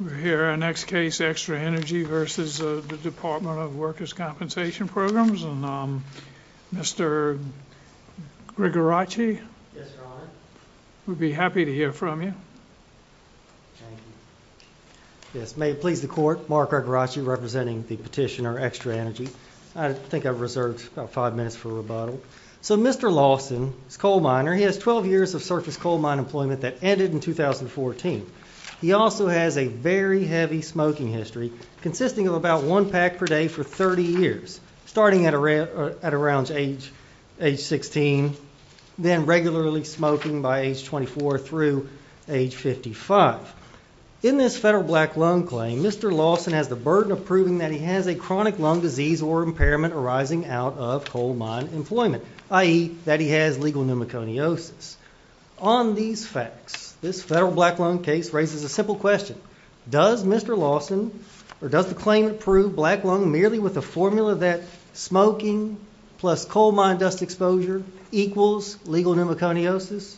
We're here our next case extra energy versus the Department of Workers compensation programs and Mr. Greg Arachi Would be happy to hear from you Yes, may it please the court mark our garage you representing the petitioner extra energy I think I've reserved about five minutes for a rebuttal. So mr. Lawson. It's coal miner He has 12 years of surface coal mine employment that ended in 2014 He also has a very heavy smoking history consisting of about one pack per day for 30 years Starting at around at around age age 16 Then regularly smoking by age 24 through age 55 in this federal black lung claim Mr. Lawson has the burden of proving that he has a chronic lung disease or impairment arising out of coal mine employment I eat that he has legal pneumoconiosis on these facts. This federal black lung case raises a simple question Does mr. Lawson or does the claimant prove black lung merely with a formula that? smoking plus coal mine dust exposure equals legal pneumoconiosis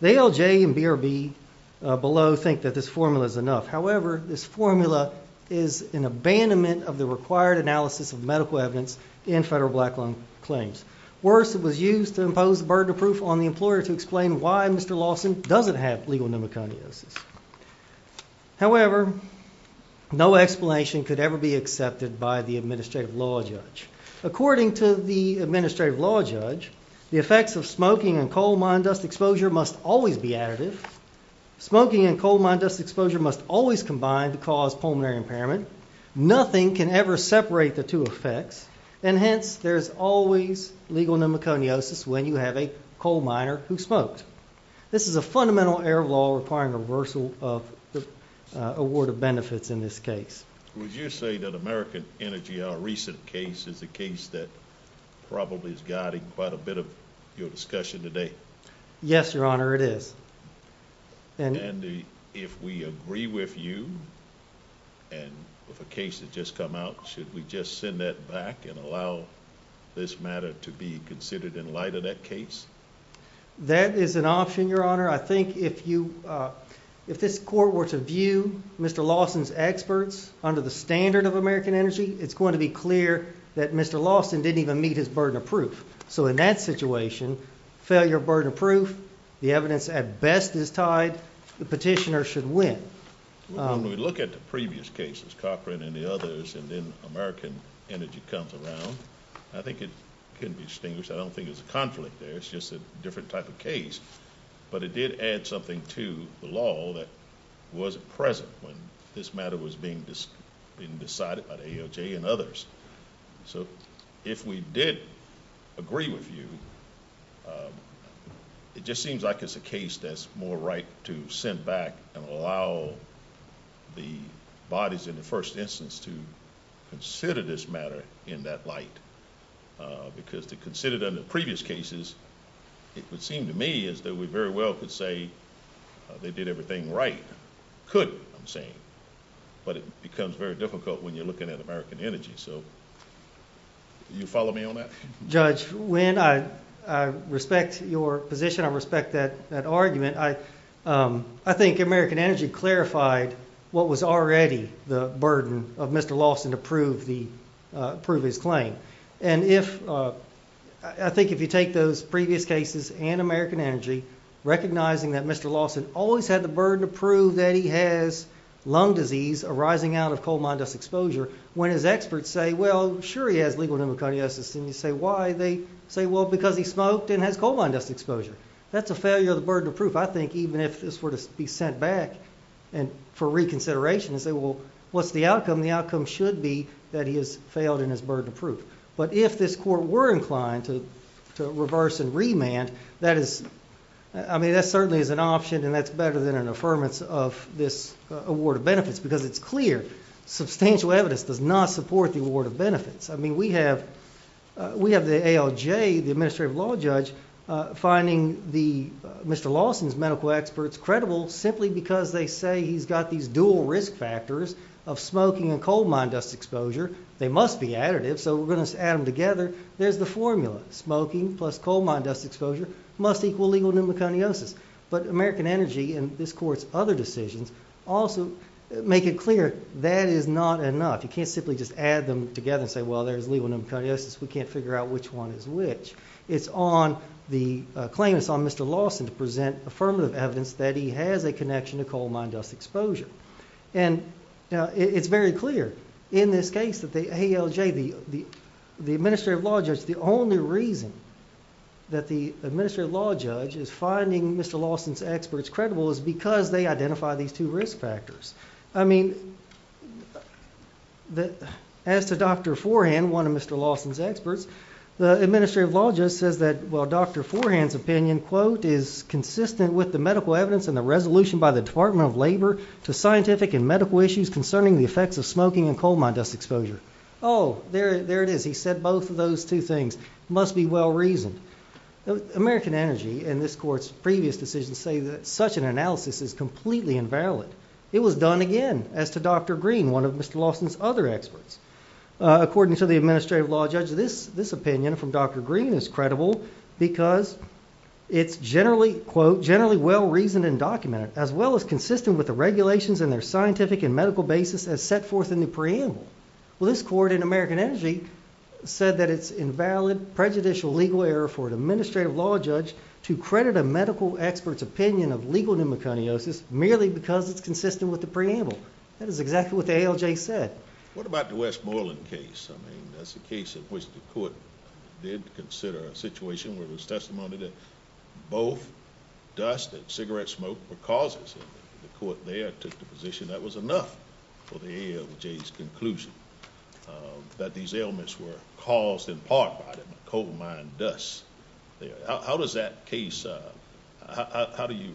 They LJ and BRB Below think that this formula is enough However, this formula is an abandonment of the required analysis of medical evidence in federal black lung claims Worse it was used to impose the burden of proof on the employer to explain why mr. Lawson doesn't have legal pneumoconiosis however No explanation could ever be accepted by the administrative law judge According to the administrative law judge the effects of smoking and coal mine dust exposure must always be additive Smoking and coal mine dust exposure must always combine to cause pulmonary impairment Nothing can ever separate the two effects and hence There's always legal pneumoconiosis when you have a coal miner who smoked this is a fundamental error law requiring reversal of the Award of benefits in this case. Would you say that American Energy our recent case is the case that? Probably is guiding quite a bit of your discussion today. Yes, your honor. It is and if we agree with you and The case has just come out. Should we just send that back and allow this matter to be considered in light of that case? That is an option your honor. I think if you if this court were to view mr Lawson's experts under the standard of American Energy. It's going to be clear that mr. Lawson didn't even meet his burden of proof So in that situation Failure burden of proof the evidence at best is tied. The petitioner should win When we look at the previous cases Cochran and the others and then American Energy comes around I think it can be distinguished I don't think it's a conflict there. It's just a different type of case But it did add something to the law that was present when this matter was being Decided by the AOJ and others so if we did Agree with you It just seems like it's a case that's more right to send back and allow the bodies in the first instance to Consider this matter in that light Because they considered under previous cases. It would seem to me is that we very well could say They did everything right? Could I'm saying but it becomes very difficult when you're looking at American Energy. So You follow me on that judge when I Respect your position. I respect that that argument. I I think American Energy clarified what was already the burden of mr. Lawson to prove the Prove his claim and if I think if you take those previous cases and American Energy Recognizing that mr. Lawson always had the burden to prove that he has Lung disease arising out of coal mine dust exposure when his experts say well sure He has legal pneumoconiosis and you say why they say well because he smoked and has coal mine dust exposure That's a failure of the burden of proof. I think even if this were to be sent back and For reconsideration and say well, what's the outcome the outcome should be that he has failed in his burden of proof But if this court were inclined to to reverse and remand that is I mean that certainly is an option And that's better than an affirmance of this award of benefits because it's clear Substantial evidence does not support the award of benefits. I mean we have We have the ALJ the administrative law judge Finding the mr. Lawson's medical experts credible simply because they say he's got these dual risk factors of Smoking and coal mine dust exposure. They must be additive. So we're going to add them together There's the formula smoking plus coal mine dust exposure must equal legal pneumoconiosis But American Energy and this courts other decisions also make it clear. That is not enough You can't simply just add them together and say well, there's legal pneumoconiosis. We can't figure out which one is which it's on the claimants on mr. Lawson to present affirmative evidence that he has a connection to coal mine dust exposure and It's very clear in this case that they ALJ the the the administrative law judge. The only reason That the administrative law judge is finding mr. Lawson's experts credible is because they identify these two risk factors, I mean That as to dr. Forehand one of mr. Lawson's experts the administrative law just says that well, dr Forehands opinion quote is Consistent with the medical evidence and the resolution by the Department of Labor to scientific and medical issues concerning the effects of smoking and coal Mine dust exposure. Oh, there it is. He said both of those two things must be well reasoned American Energy and this courts previous decisions say that such an analysis is completely invalid It was done again as to dr. Green one of mr. Lawson's other experts According to the administrative law judge this this opinion from dr. Green is credible because It's generally quote generally well reasoned and documented as well as consistent with the regulations and their scientific and medical Basis as set forth in the preamble. Well this court in American Energy Said that it's invalid prejudicial legal error for an administrative law judge to credit a medical experts opinion of legal pneumoconiosis Merely because it's consistent with the preamble. That is exactly what the ALJ said. What about the Westmoreland case? I mean, that's the case in which the court did consider a situation where it was testimony that both Dust and cigarette smoke were causes the court there took the position that was enough for the ALJ's conclusion That these ailments were caused in part by the coal mine dust How does that case? How do you?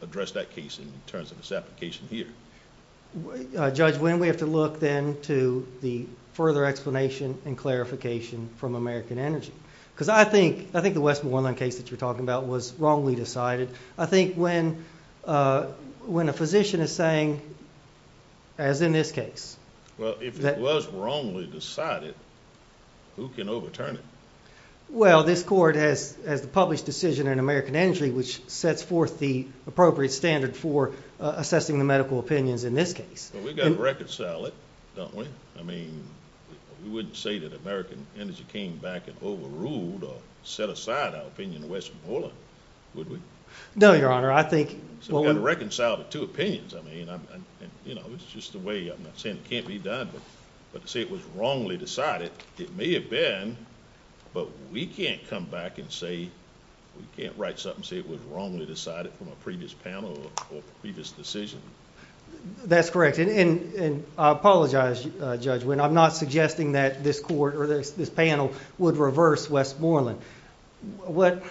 address that case in terms of this application here Judge when we have to look then to the further explanation and clarification From American Energy because I think I think the Westmoreland case that you're talking about was wrongly decided. I think when when a physician is saying as In this case. Well, it was wrongly decided Who can overturn it? well, this court has as the published decision in American Energy, which sets forth the appropriate standard for Assessing the medical opinions in this case. We've got to reconcile it. Don't we I mean We wouldn't say that American Energy came back and overruled or set aside our opinion in Westmoreland Would we know your honor? I think we're gonna reconcile the two opinions I mean, I'm you know, it's just the way I'm not saying it can't be done. But but to say it was wrongly decided It may have been But we can't come back and say we can't write something say it was wrongly decided from a previous panel or previous decision That's correct and Apologize judge when I'm not suggesting that this court or this this panel would reverse Westmoreland What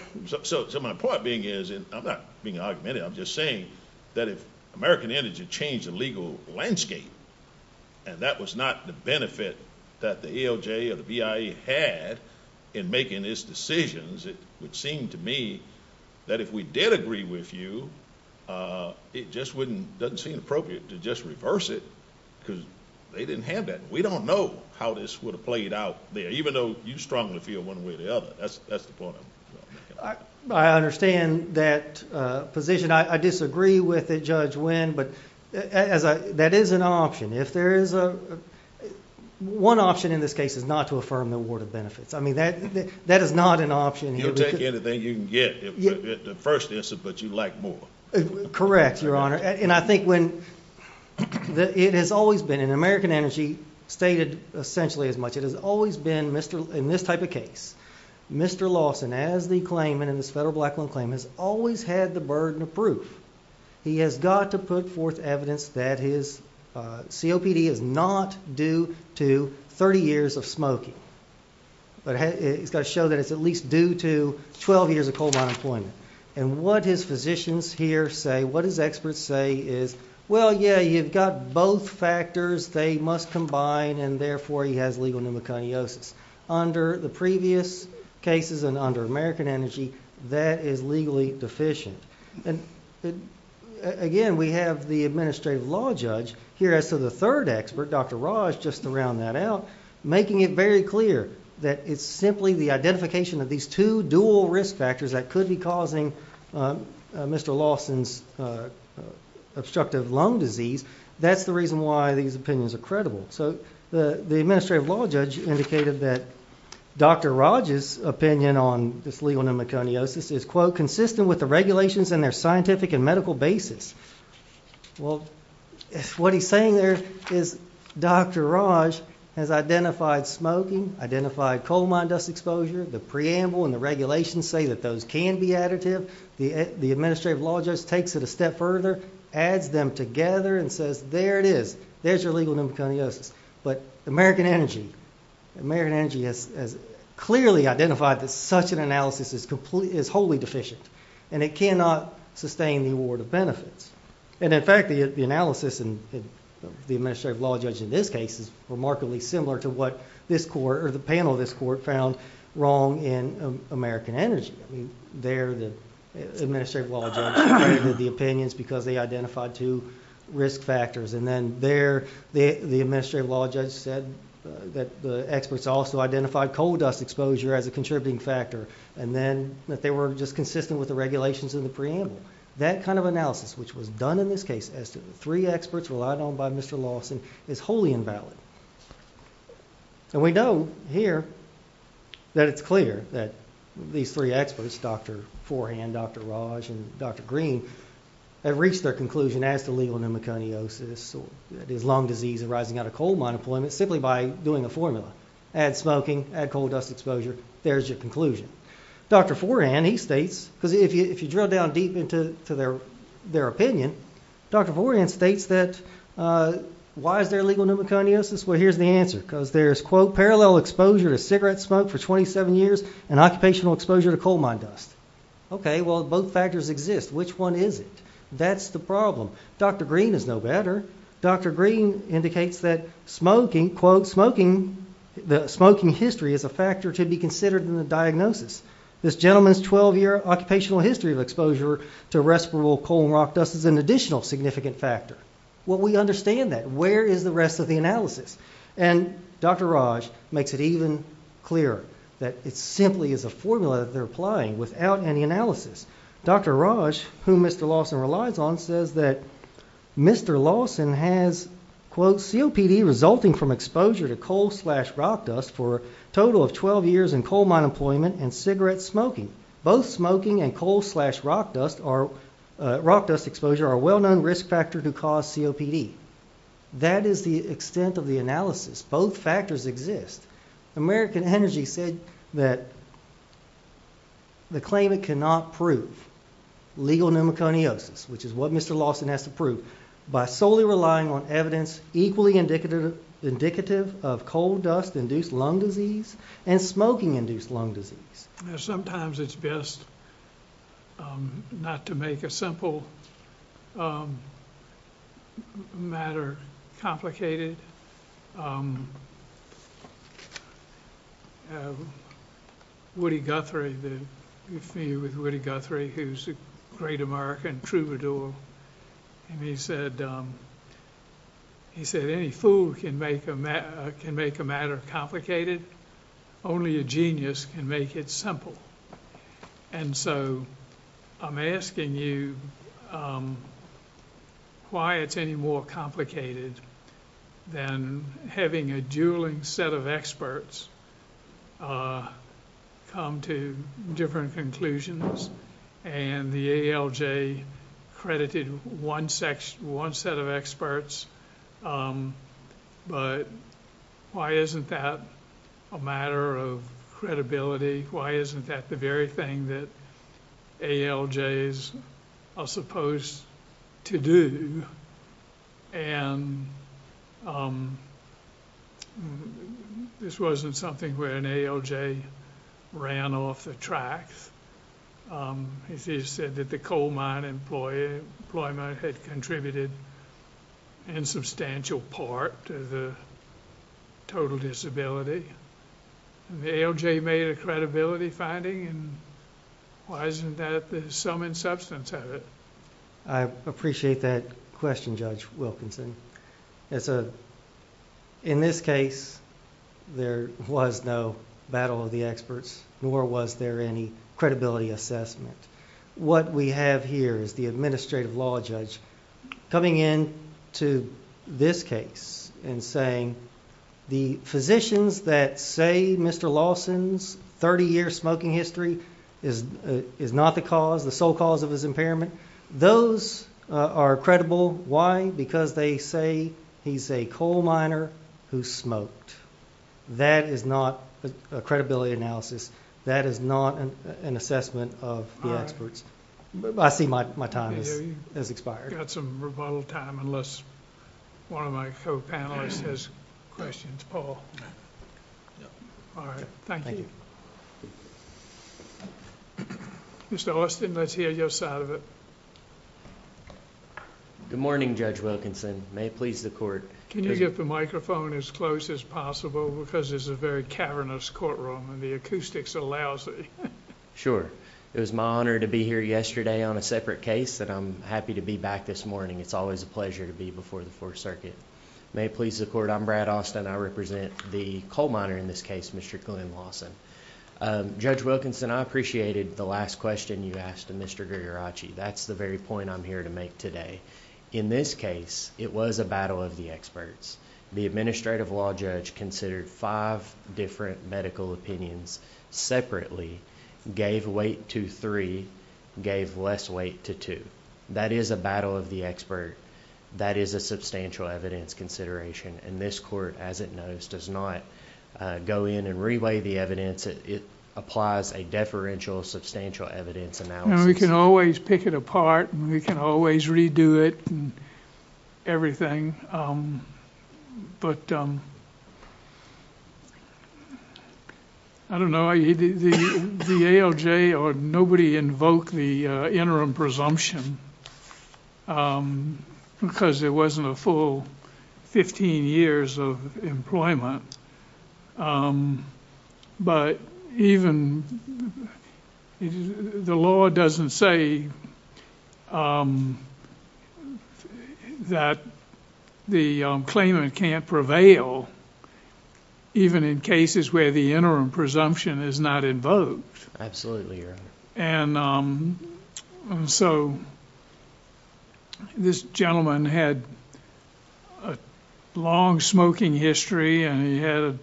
so my point being is and I'm not being argumentative I'm just saying that if American Energy changed the legal landscape and That was not the benefit that the ALJ or the BIE had in making its decisions It would seem to me that if we did agree with you It just wouldn't doesn't seem appropriate to just reverse it because they didn't have that We don't know how this would have played out there, even though you strongly feel one way or the other. That's that's the point. I understand that position I disagree with it judge win, but as I that is an option if there is a One option in this case is not to affirm the award of benefits. I mean that that is not an option Take anything you can get the first instance, but you like more correct, your honor, and I think when That it has always been in American Energy stated essentially as much it has always been mr. In this type of case Mr. Lawson as the claimant in this federal black loan claim has always had the burden of proof he has got to put forth evidence that his COPD is not due to 30 years of smoking But he's got to show that it's at least due to 12 years of coal mine employment and what his physicians here say what his experts say is well Yeah, you've got both factors. They must combine and therefore he has legal pneumoconiosis under the previous cases and under American Energy that is legally deficient and Again, we have the administrative law judge here as to the third expert. Dr. Raj just to round that out Making it very clear that it's simply the identification of these two dual risk factors that could be causing mr. Lawson's Obstructive lung disease. That's the reason why these opinions are credible. So the the administrative law judge indicated that Dr. Raj's opinion on this legal pneumoconiosis is quote consistent with the regulations and their scientific and medical basis well What he's saying there is Dr. Raj has identified smoking identified coal mine dust exposure the preamble and the regulations say that those can be additive The the administrative law just takes it a step further adds them together and says there it is There's your legal pneumoconiosis, but American Energy American Energy has Clearly identified that such an analysis is complete is wholly deficient and it cannot sustain the award of benefits And in fact the analysis and The administrative law judge in this case is remarkably similar to what this court or the panel of this court found wrong in American Energy, I mean they're the administrative law judge the opinions because they identified two risk factors and then there the the administrative law judge said that the experts also identified coal dust exposure as a contributing factor and then that they were just consistent with the Regulations in the preamble that kind of analysis which was done in this case as to the three experts relied on by mr Lawson is wholly invalid And we know here That it's clear that these three experts. Dr. Forehand. Dr. Raj and dr. Green Have reached their conclusion as to legal pneumoconiosis So that is lung disease arising out of coal mine employment simply by doing a formula add smoking add coal dust exposure There's your conclusion Dr. Forehand he states because if you if you drill down deep into their their opinion, dr. Forehand states that Why is there legal pneumoconiosis? Well, here's the answer because there's quote parallel exposure to cigarette smoke for 27 years and occupational exposure to coal mine dust Okay. Well both factors exist. Which one is it? That's the problem. Dr. Green is no better. Dr Green indicates that smoking quote smoking The smoking history is a factor to be considered in the diagnosis This gentleman's 12-year occupational history of exposure to respirable coal and rock dust is an additional significant factor Well, we understand that. Where is the rest of the analysis and Dr. Raj makes it even clearer that it simply is a formula that they're applying without any analysis. Dr Raj whom mr. Lawson relies on says that Mr. Lawson has Quote COPD resulting from exposure to coal slash rock dust for a total of 12 years in coal mine employment and cigarette smoking both smoking and coal slash rock dust are Rock dust exposure are well known risk factor to cause COPD That is the extent of the analysis both factors exist American Energy said that The claimant cannot prove Legal pneumoconiosis, which is what mr. Lawson has to prove by solely relying on evidence equally indicative Indicative of coal dust induced lung disease and smoking induced lung disease. Sometimes it's best Not to make a simple Matter complicated Um Woody Guthrie that you feel with Woody Guthrie, who's a great American troubadour and he said He said any fool can make a man can make a matter complicated Only a genius can make it simple. And so I'm asking you Why it's any more complicated Than having a dueling set of experts Come to different conclusions and the ALJ credited one section one set of experts But Why isn't that a matter of credibility? Why isn't that the very thing that? ALJ is supposed to do and This Wasn't something where an ALJ ran off the tracks He said that the coal mine employee employment had contributed in substantial part to the total disability The ALJ made a credibility finding and why isn't that the sum and substance of it? I It's a in this case There was no battle of the experts nor was there any credibility assessment What we have here is the administrative law judge Coming in to this case and saying the physicians that say mr Lawson's 30 year smoking history is Is not the cause the sole cause of his impairment those Are credible why because they say he's a coal miner who smoked That is not a credibility analysis. That is not an assessment of the experts I see my time is expired. That's a unless One of my co-panelists has questions. Oh Mr. Austin, let's hear your side of it Good morning, Judge Wilkinson may it please the court Can you get the microphone as close as possible because there's a very cavernous courtroom and the acoustics allows it Sure, it was my honor to be here yesterday on a separate case that I'm happy to be back this morning It's always a pleasure to be before the Fourth Circuit may it please the court. I'm Brad Austin I represent the coal miner in this case. Mr. Glenn Lawson Judge Wilkinson, I appreciated the last question. You asked a mr. Gujarati. That's the very point I'm here to make today in this case It was a battle of the experts the administrative law judge considered five different medical opinions Separately gave weight to three gave less weight to two. That is a battle of the expert That is a substantial evidence consideration and this court as it knows does not Go in and relay the evidence. It applies a deferential substantial evidence analysis We can always pick it apart and we can always redo it everything but I Don't know the ALJ or nobody invoked the interim presumption Because it wasn't a full 15 years of employment But even The law doesn't say That the claimant can't prevail Even in cases where the interim presumption is not invoked. Absolutely, and So This gentleman had a Long-smoking history and he had a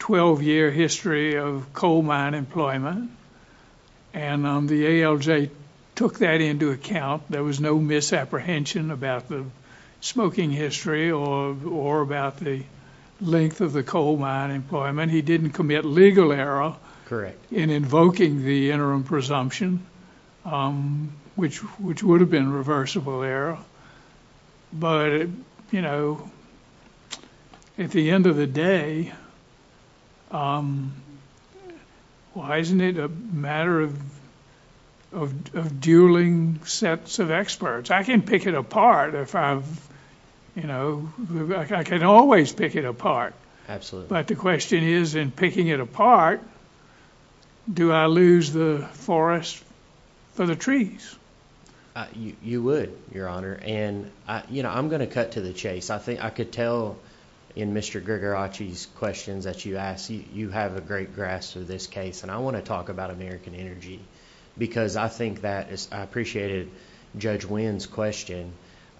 12-year history of coal mine employment and The ALJ took that into account. There was no misapprehension about the smoking history or or about the Length of the coal mine employment. He didn't commit legal error. Correct in invoking the interim presumption Which which would have been reversible error but you know At the end of the day Why isn't it a matter of Dueling sets of experts I can pick it apart if I've You know, I can always pick it apart. Absolutely, but the question is in picking it apart Do I lose the forest for the trees? You would your honor and you know, I'm gonna cut to the chase I think I could tell in mr Grigorochi's questions that you asked you you have a great grasp of this case and I want to talk about American Energy Because I think that is I appreciated judge wins question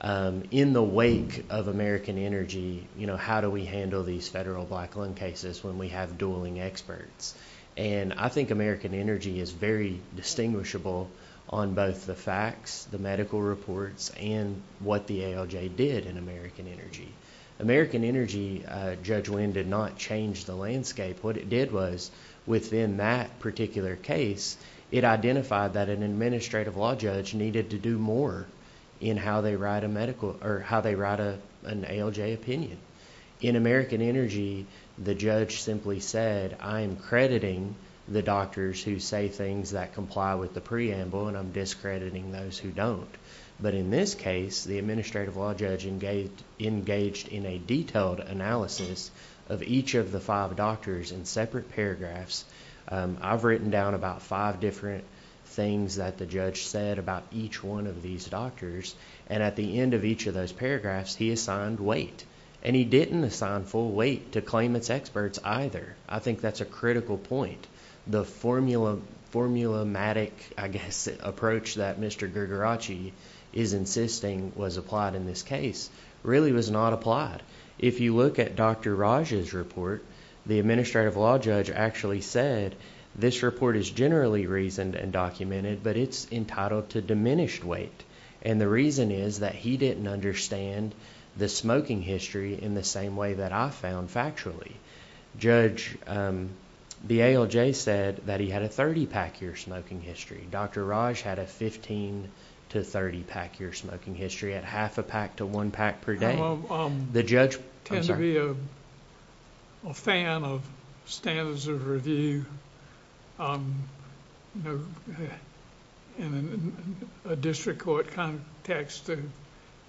In the wake of American Energy, you know how do we handle these federal black lung cases when we have dueling experts and I think American Energy is very Distinguishable on both the facts the medical reports and what the ALJ did in American Energy American Energy judge when did not change the landscape what it did was within that particular case It identified that an administrative law judge needed to do more In how they write a medical or how they write a an ALJ opinion in American Energy The judge simply said I am crediting the doctors who say things that comply with the preamble and I'm discrediting Those who don't but in this case the administrative law judge engaged engaged in a detailed Analysis of each of the five doctors in separate paragraphs I've written down about five different things that the judge said about each one of these doctors and at the end of each of those Paragraphs he assigned weight and he didn't assign full weight to claim. It's experts either I think that's a critical point the formula Formulamatic, I guess approach that. Mr. Gujarati is Insisting was applied in this case really was not applied if you look at dr Raj's report the administrative law judge actually said this report is generally reasoned and documented But it's entitled to diminished weight And the reason is that he didn't understand the smoking history in the same way that I found factually judge The ALJ said that he had a 30 pack your smoking history. Dr Raj had a 15 to 30 pack your smoking history at half a pack to one pack per day the judge Fan of standards of review And a district court context to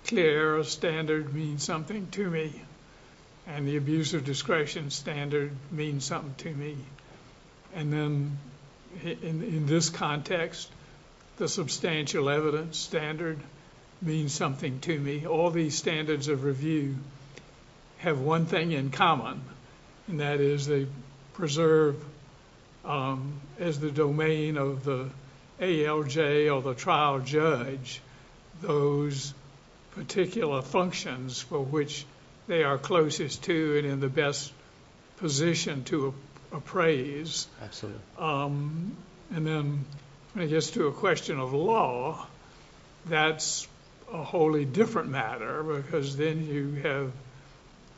clear a standard means something to me and the abuse of discretion standard means something to me and then in this context The substantial evidence standard means something to me all these standards of review Have one thing in common and that is they preserve As the domain of the ALJ or the trial judge those Particular functions for which they are closest to it in the best position to appraise And then I guess to a question of law That's a wholly different matter because then you have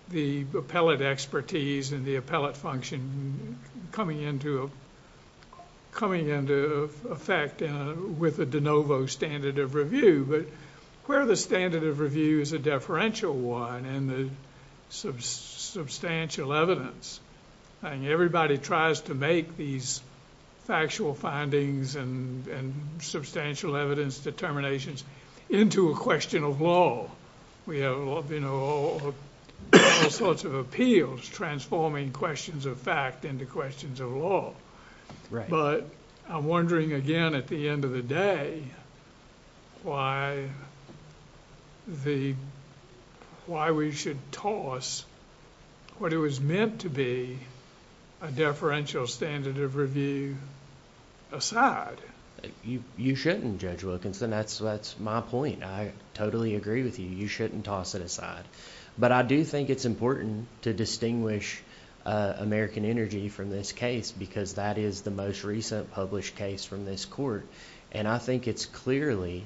the appellate expertise and the appellate function Coming into a Coming into effect with a de novo standard of review, but where the standard of review is a deferential one and the Substantial evidence and everybody tries to make these factual findings and substantial evidence determinations Into a question of law. We have a lot of you know Sorts of appeals transforming questions of fact into questions of law But I'm wondering again at the end of the day why The Why we should toss? what it was meant to be a deferential standard of review Aside you you shouldn't judge Wilkinson. That's that's my point. I totally agree with you. You shouldn't toss it aside But I do think it's important to distinguish American Energy from this case because that is the most recent published case from this court, and I think it's clearly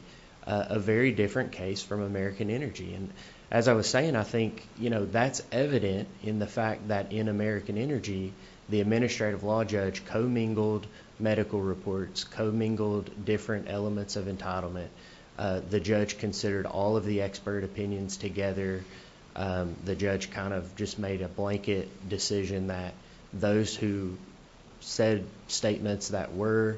a Very different case from American Energy and as I was saying, I think you know That's evident in the fact that in American Energy the administrative law judge commingled medical reports commingled different elements of entitlement The judge considered all of the expert opinions together The judge kind of just made a blanket decision that those who said statements that were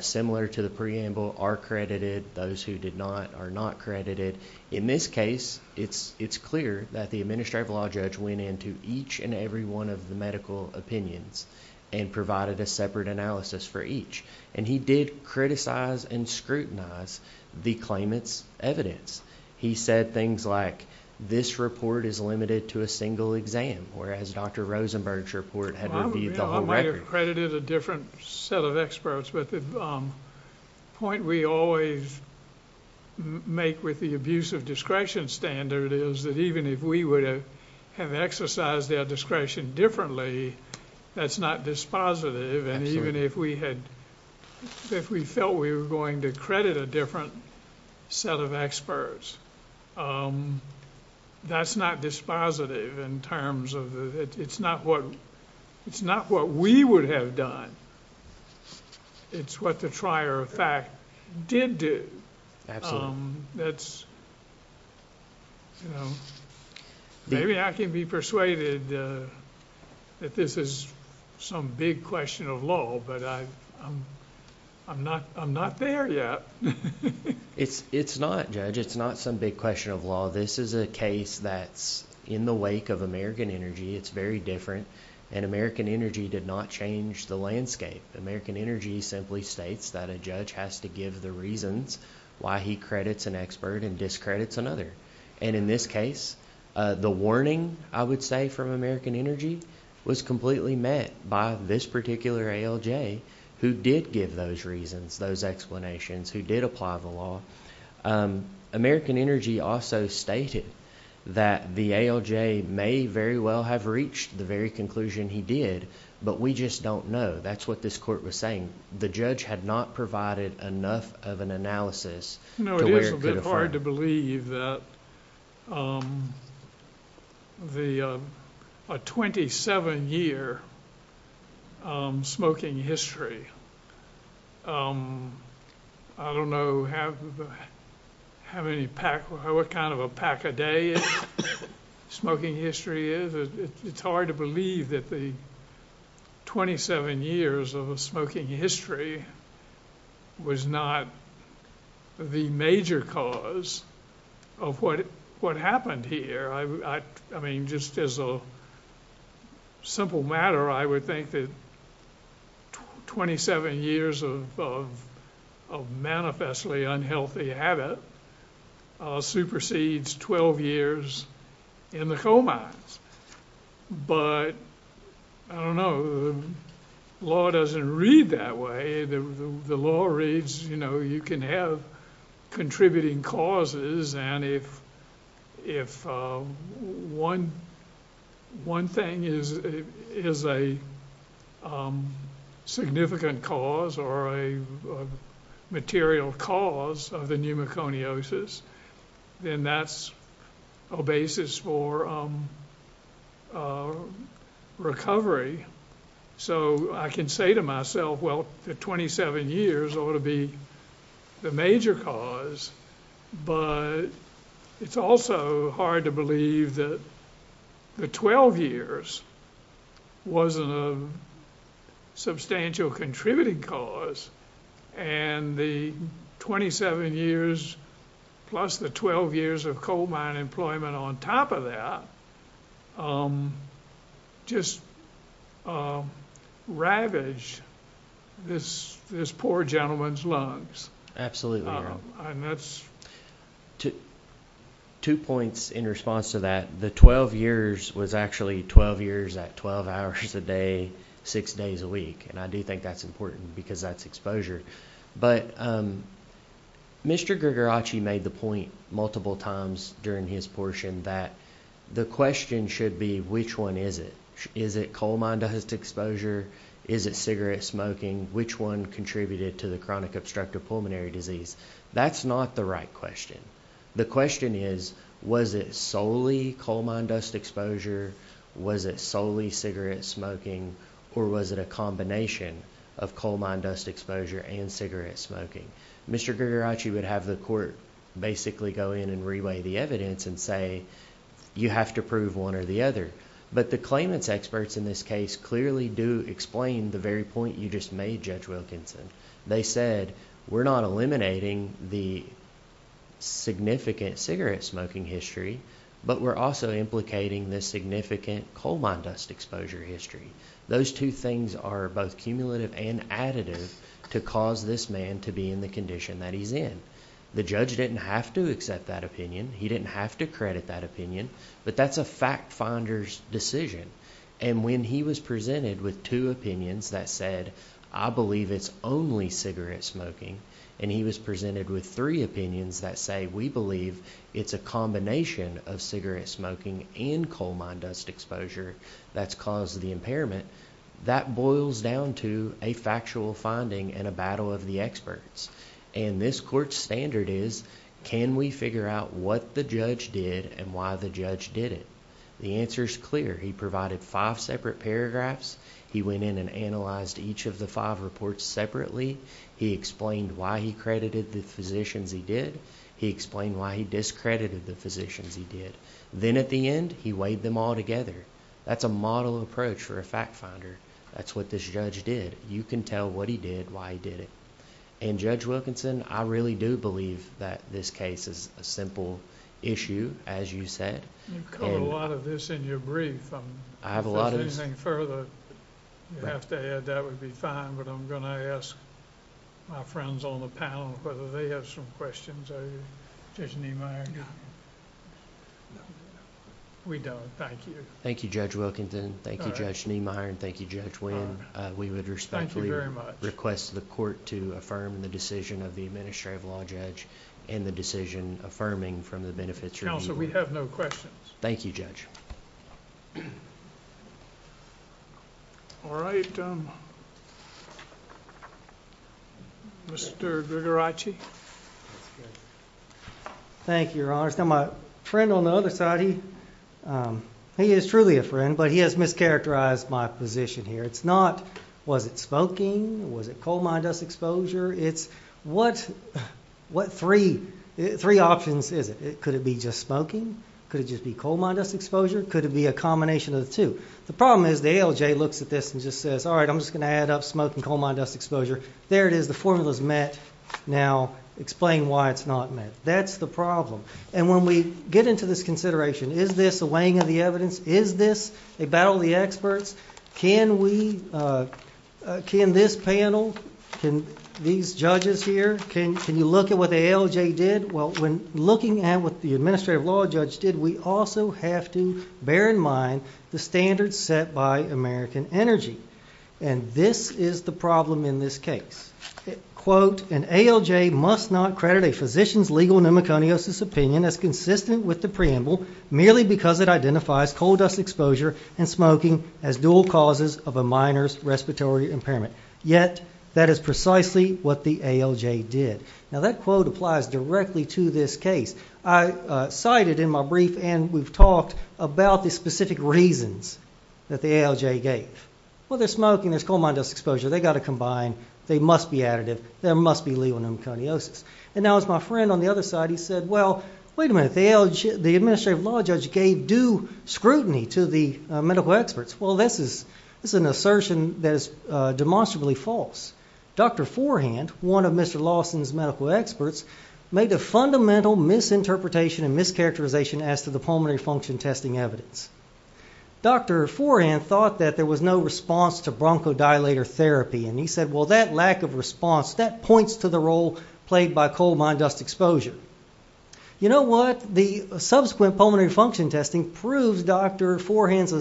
Similar to the preamble are credited those who did not are not credited in this case it's it's clear that the administrative law judge went into each and every one of the medical opinions and Provided a separate analysis for each and he did criticize and scrutinize the claimants evidence He said things like this report is limited to a single exam or as dr. Rosenberg's report Accredited a different set of experts, but the point we always Make with the abuse of discretion standard is that even if we would have have exercised their discretion differently That's not dispositive and even if we had If we felt we were going to credit a different Set of experts That's not dispositive in terms of it's not what it's not what we would have done It's what the trier of fact did do that's Maybe I can be persuaded That this is some big question of law, but I I'm not I'm not there yet It's it's not judge. It's not some big question of law. This is a case that's in the wake of American Energy It's very different and American Energy did not change the landscape American Energy simply states that a judge has to give the reasons why he credits an expert and discredits another and in this case The warning I would say from American Energy was completely met by this particular ALJ who did give those reasons those explanations who did apply the law American Energy also stated that the ALJ may very well have reached the very conclusion he did But we just don't know that's what this court was saying. The judge had not provided enough of an analysis hard to believe that The 27-year Smoking history I Don't know have How many pack what kind of a pack a day? smoking history is it's hard to believe that the 27 years of a smoking history Was not the major cause of What what happened here? I mean just as a Simple matter I would think that 27 years of Manifestly unhealthy habit supersedes 12 years in the coal mines but I don't know the Law doesn't read that way the law reads, you know, you can have contributing causes and if if one one thing is is a Significant cause or a material cause of the pneumoconiosis then that's a basis for Recovery So I can say to myself. Well the 27 years ought to be the major cause but it's also hard to believe that the 12 years wasn't a Substantial contributing cause and the 27 years Plus the 12 years of coal mine employment on top of that Just Ravage this this poor gentleman's lungs. Absolutely. That's to Two points in response to that the 12 years was actually 12 years at 12 hours a day Six days a week and I do think that's important because that's exposure. But Mr. Grigorochi made the point multiple times during his portion that The question should be which one is it? Is it coal mine dust exposure? Is it cigarette smoking which one contributed to the chronic obstructive pulmonary disease? That's not the right question. The question is was it solely coal mine dust exposure? Was it solely cigarette smoking or was it a combination of coal mine dust exposure and cigarette smoking? Mr. Grigorochi would have the court basically go in and reweigh the evidence and say You have to prove one or the other But the claimants experts in this case clearly do explain the very point you just made judge Wilkinson they said we're not eliminating the Significant cigarette smoking history, but we're also implicating this significant coal mine dust exposure history Those two things are both cumulative and additive to cause this man to be in the condition that he's in The judge didn't have to accept that opinion He didn't have to credit that opinion but that's a fact finders decision and when he was presented with two opinions that said I Believe it's only cigarette smoking and he was presented with three opinions that say we believe it's a combination Of cigarette smoking and coal mine dust exposure that's caused the impairment That boils down to a factual finding and a battle of the experts and this court standard is Can we figure out what the judge did and why the judge did it? The answer is clear He provided five separate paragraphs. He went in and analyzed each of the five reports separately He explained why he credited the physicians He did he explained why he discredited the physicians he did then at the end. He weighed them all together That's a model approach for a fact finder. That's what this judge did You can tell what he did why he did it and judge Wilkinson I really do believe that this case is a simple issue as you said A lot of this in your brief. I'm I have a lot of anything further You have to add that would be fine, but I'm gonna ask My friends on the panel whether they have some questions. I just need my We don't thank you, thank you judge Wilkinson, thank you judge Sneemeyer and thank you judge win We would respect you very much request the court to affirm the decision of the administrative law judge and the decision Affirming from the benefits council. We have no questions. Thank you judge All right Mr. Ritchie Thank your honor now my friend on the other side he He is truly a friend, but he has mischaracterized my position here. It's not was it smoking? Was it coal mine dust exposure? It's what? What three Three options is it could it be just smoking could it just be coal mine dust exposure? Could it be a combination of the two the problem is the ALJ looks at this and just says all right? I'm just gonna add up smoking coal mine dust exposure there. It is the formulas met now explain why it's not met That's the problem and when we get into this consideration. Is this a weighing of the evidence is this a battle the experts can we? Can this panel can these judges here can can you look at what the ALJ did well when looking at what the Administrative law judge did we also have to bear in mind the standards set by American Energy? And this is the problem in this case Quote an ALJ must not credit a physician's legal pneumoconiosis opinion as consistent with the preamble Merely because it identifies coal dust exposure and smoking as dual causes of a minors respiratory impairment yet That is precisely what the ALJ did now that quote applies directly to this case. I Cited in my brief and we've talked about the specific reasons that the ALJ gave well They're smoking this coal mine dust exposure. They got to combine. They must be additive There must be legal pneumoconiosis and now it's my friend on the other side Well, wait a minute the ALJ the administrative law judge gave due scrutiny to the medical experts Well, this is this is an assertion that is demonstrably false Dr. Forehand one of mr. Lawson's medical experts made a fundamental Misinterpretation and mischaracterization as to the pulmonary function testing evidence Dr. Forehand thought that there was no response to bronchodilator therapy and he said well that lack of response that points to the role played by coal mine dust exposure You know what the subsequent pulmonary function testing proves. Dr. Forehand's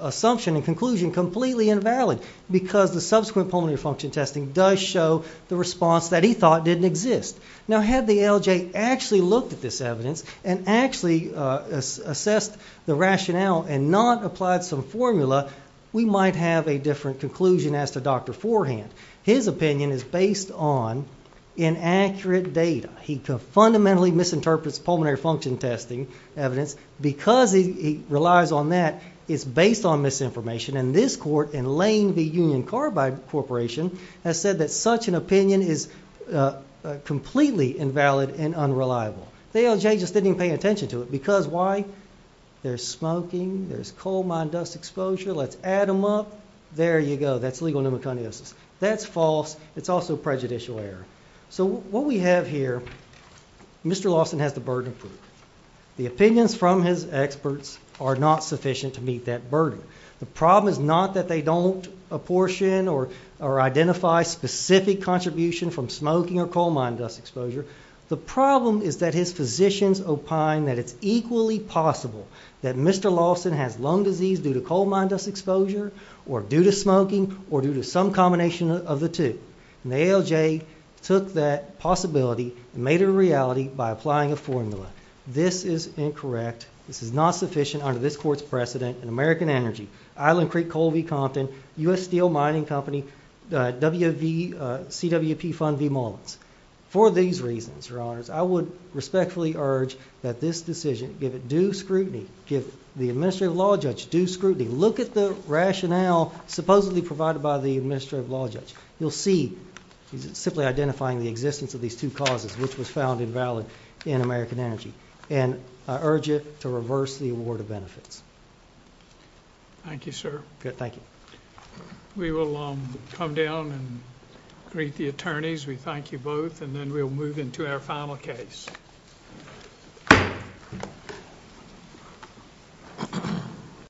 Assumption and conclusion completely invalid because the subsequent pulmonary function testing does show the response that he thought didn't exist Now had the ALJ actually looked at this evidence and actually Assessed the rationale and not applied some formula. We might have a different conclusion as to dr Forehand his opinion is based on Inaccurate data he could fundamentally misinterprets pulmonary function testing evidence because he relies on that it's based on misinformation and this court in Lane v. Union Carbide Corporation has said that such an opinion is Completely invalid and unreliable. The ALJ just didn't pay attention to it because why? There's smoking. There's coal mine dust exposure. Let's add them up. There you go. That's legal pneumoconiosis. That's false It's also prejudicial error. So what we have here Mr. Lawson has the burden of proof the opinions from his experts are not sufficient to meet that burden The problem is not that they don't apportion or or identify specific contribution from smoking or coal mine dust exposure The problem is that his physicians opine that it's equally possible that mr Lawson has lung disease due to coal mine dust exposure or due to smoking or due to some combination of the two Nail J took that possibility and made it a reality by applying a formula. This is incorrect This is not sufficient under this court's precedent and American Energy Island Creek Coal v. Compton us steel mining company wv CWP fund v. Mullins for these reasons your honors I would respectfully urge that this decision give it do scrutiny give the administrative law judge do scrutiny look at the rationale Supposedly provided by the administrative law judge you'll see simply identifying the existence of these two causes which was found invalid in American Energy and I urge it to reverse the award of benefits Thank you, sir. Good. Thank you We will come down and greet the attorneys. We thank you both and then we'll move into our final case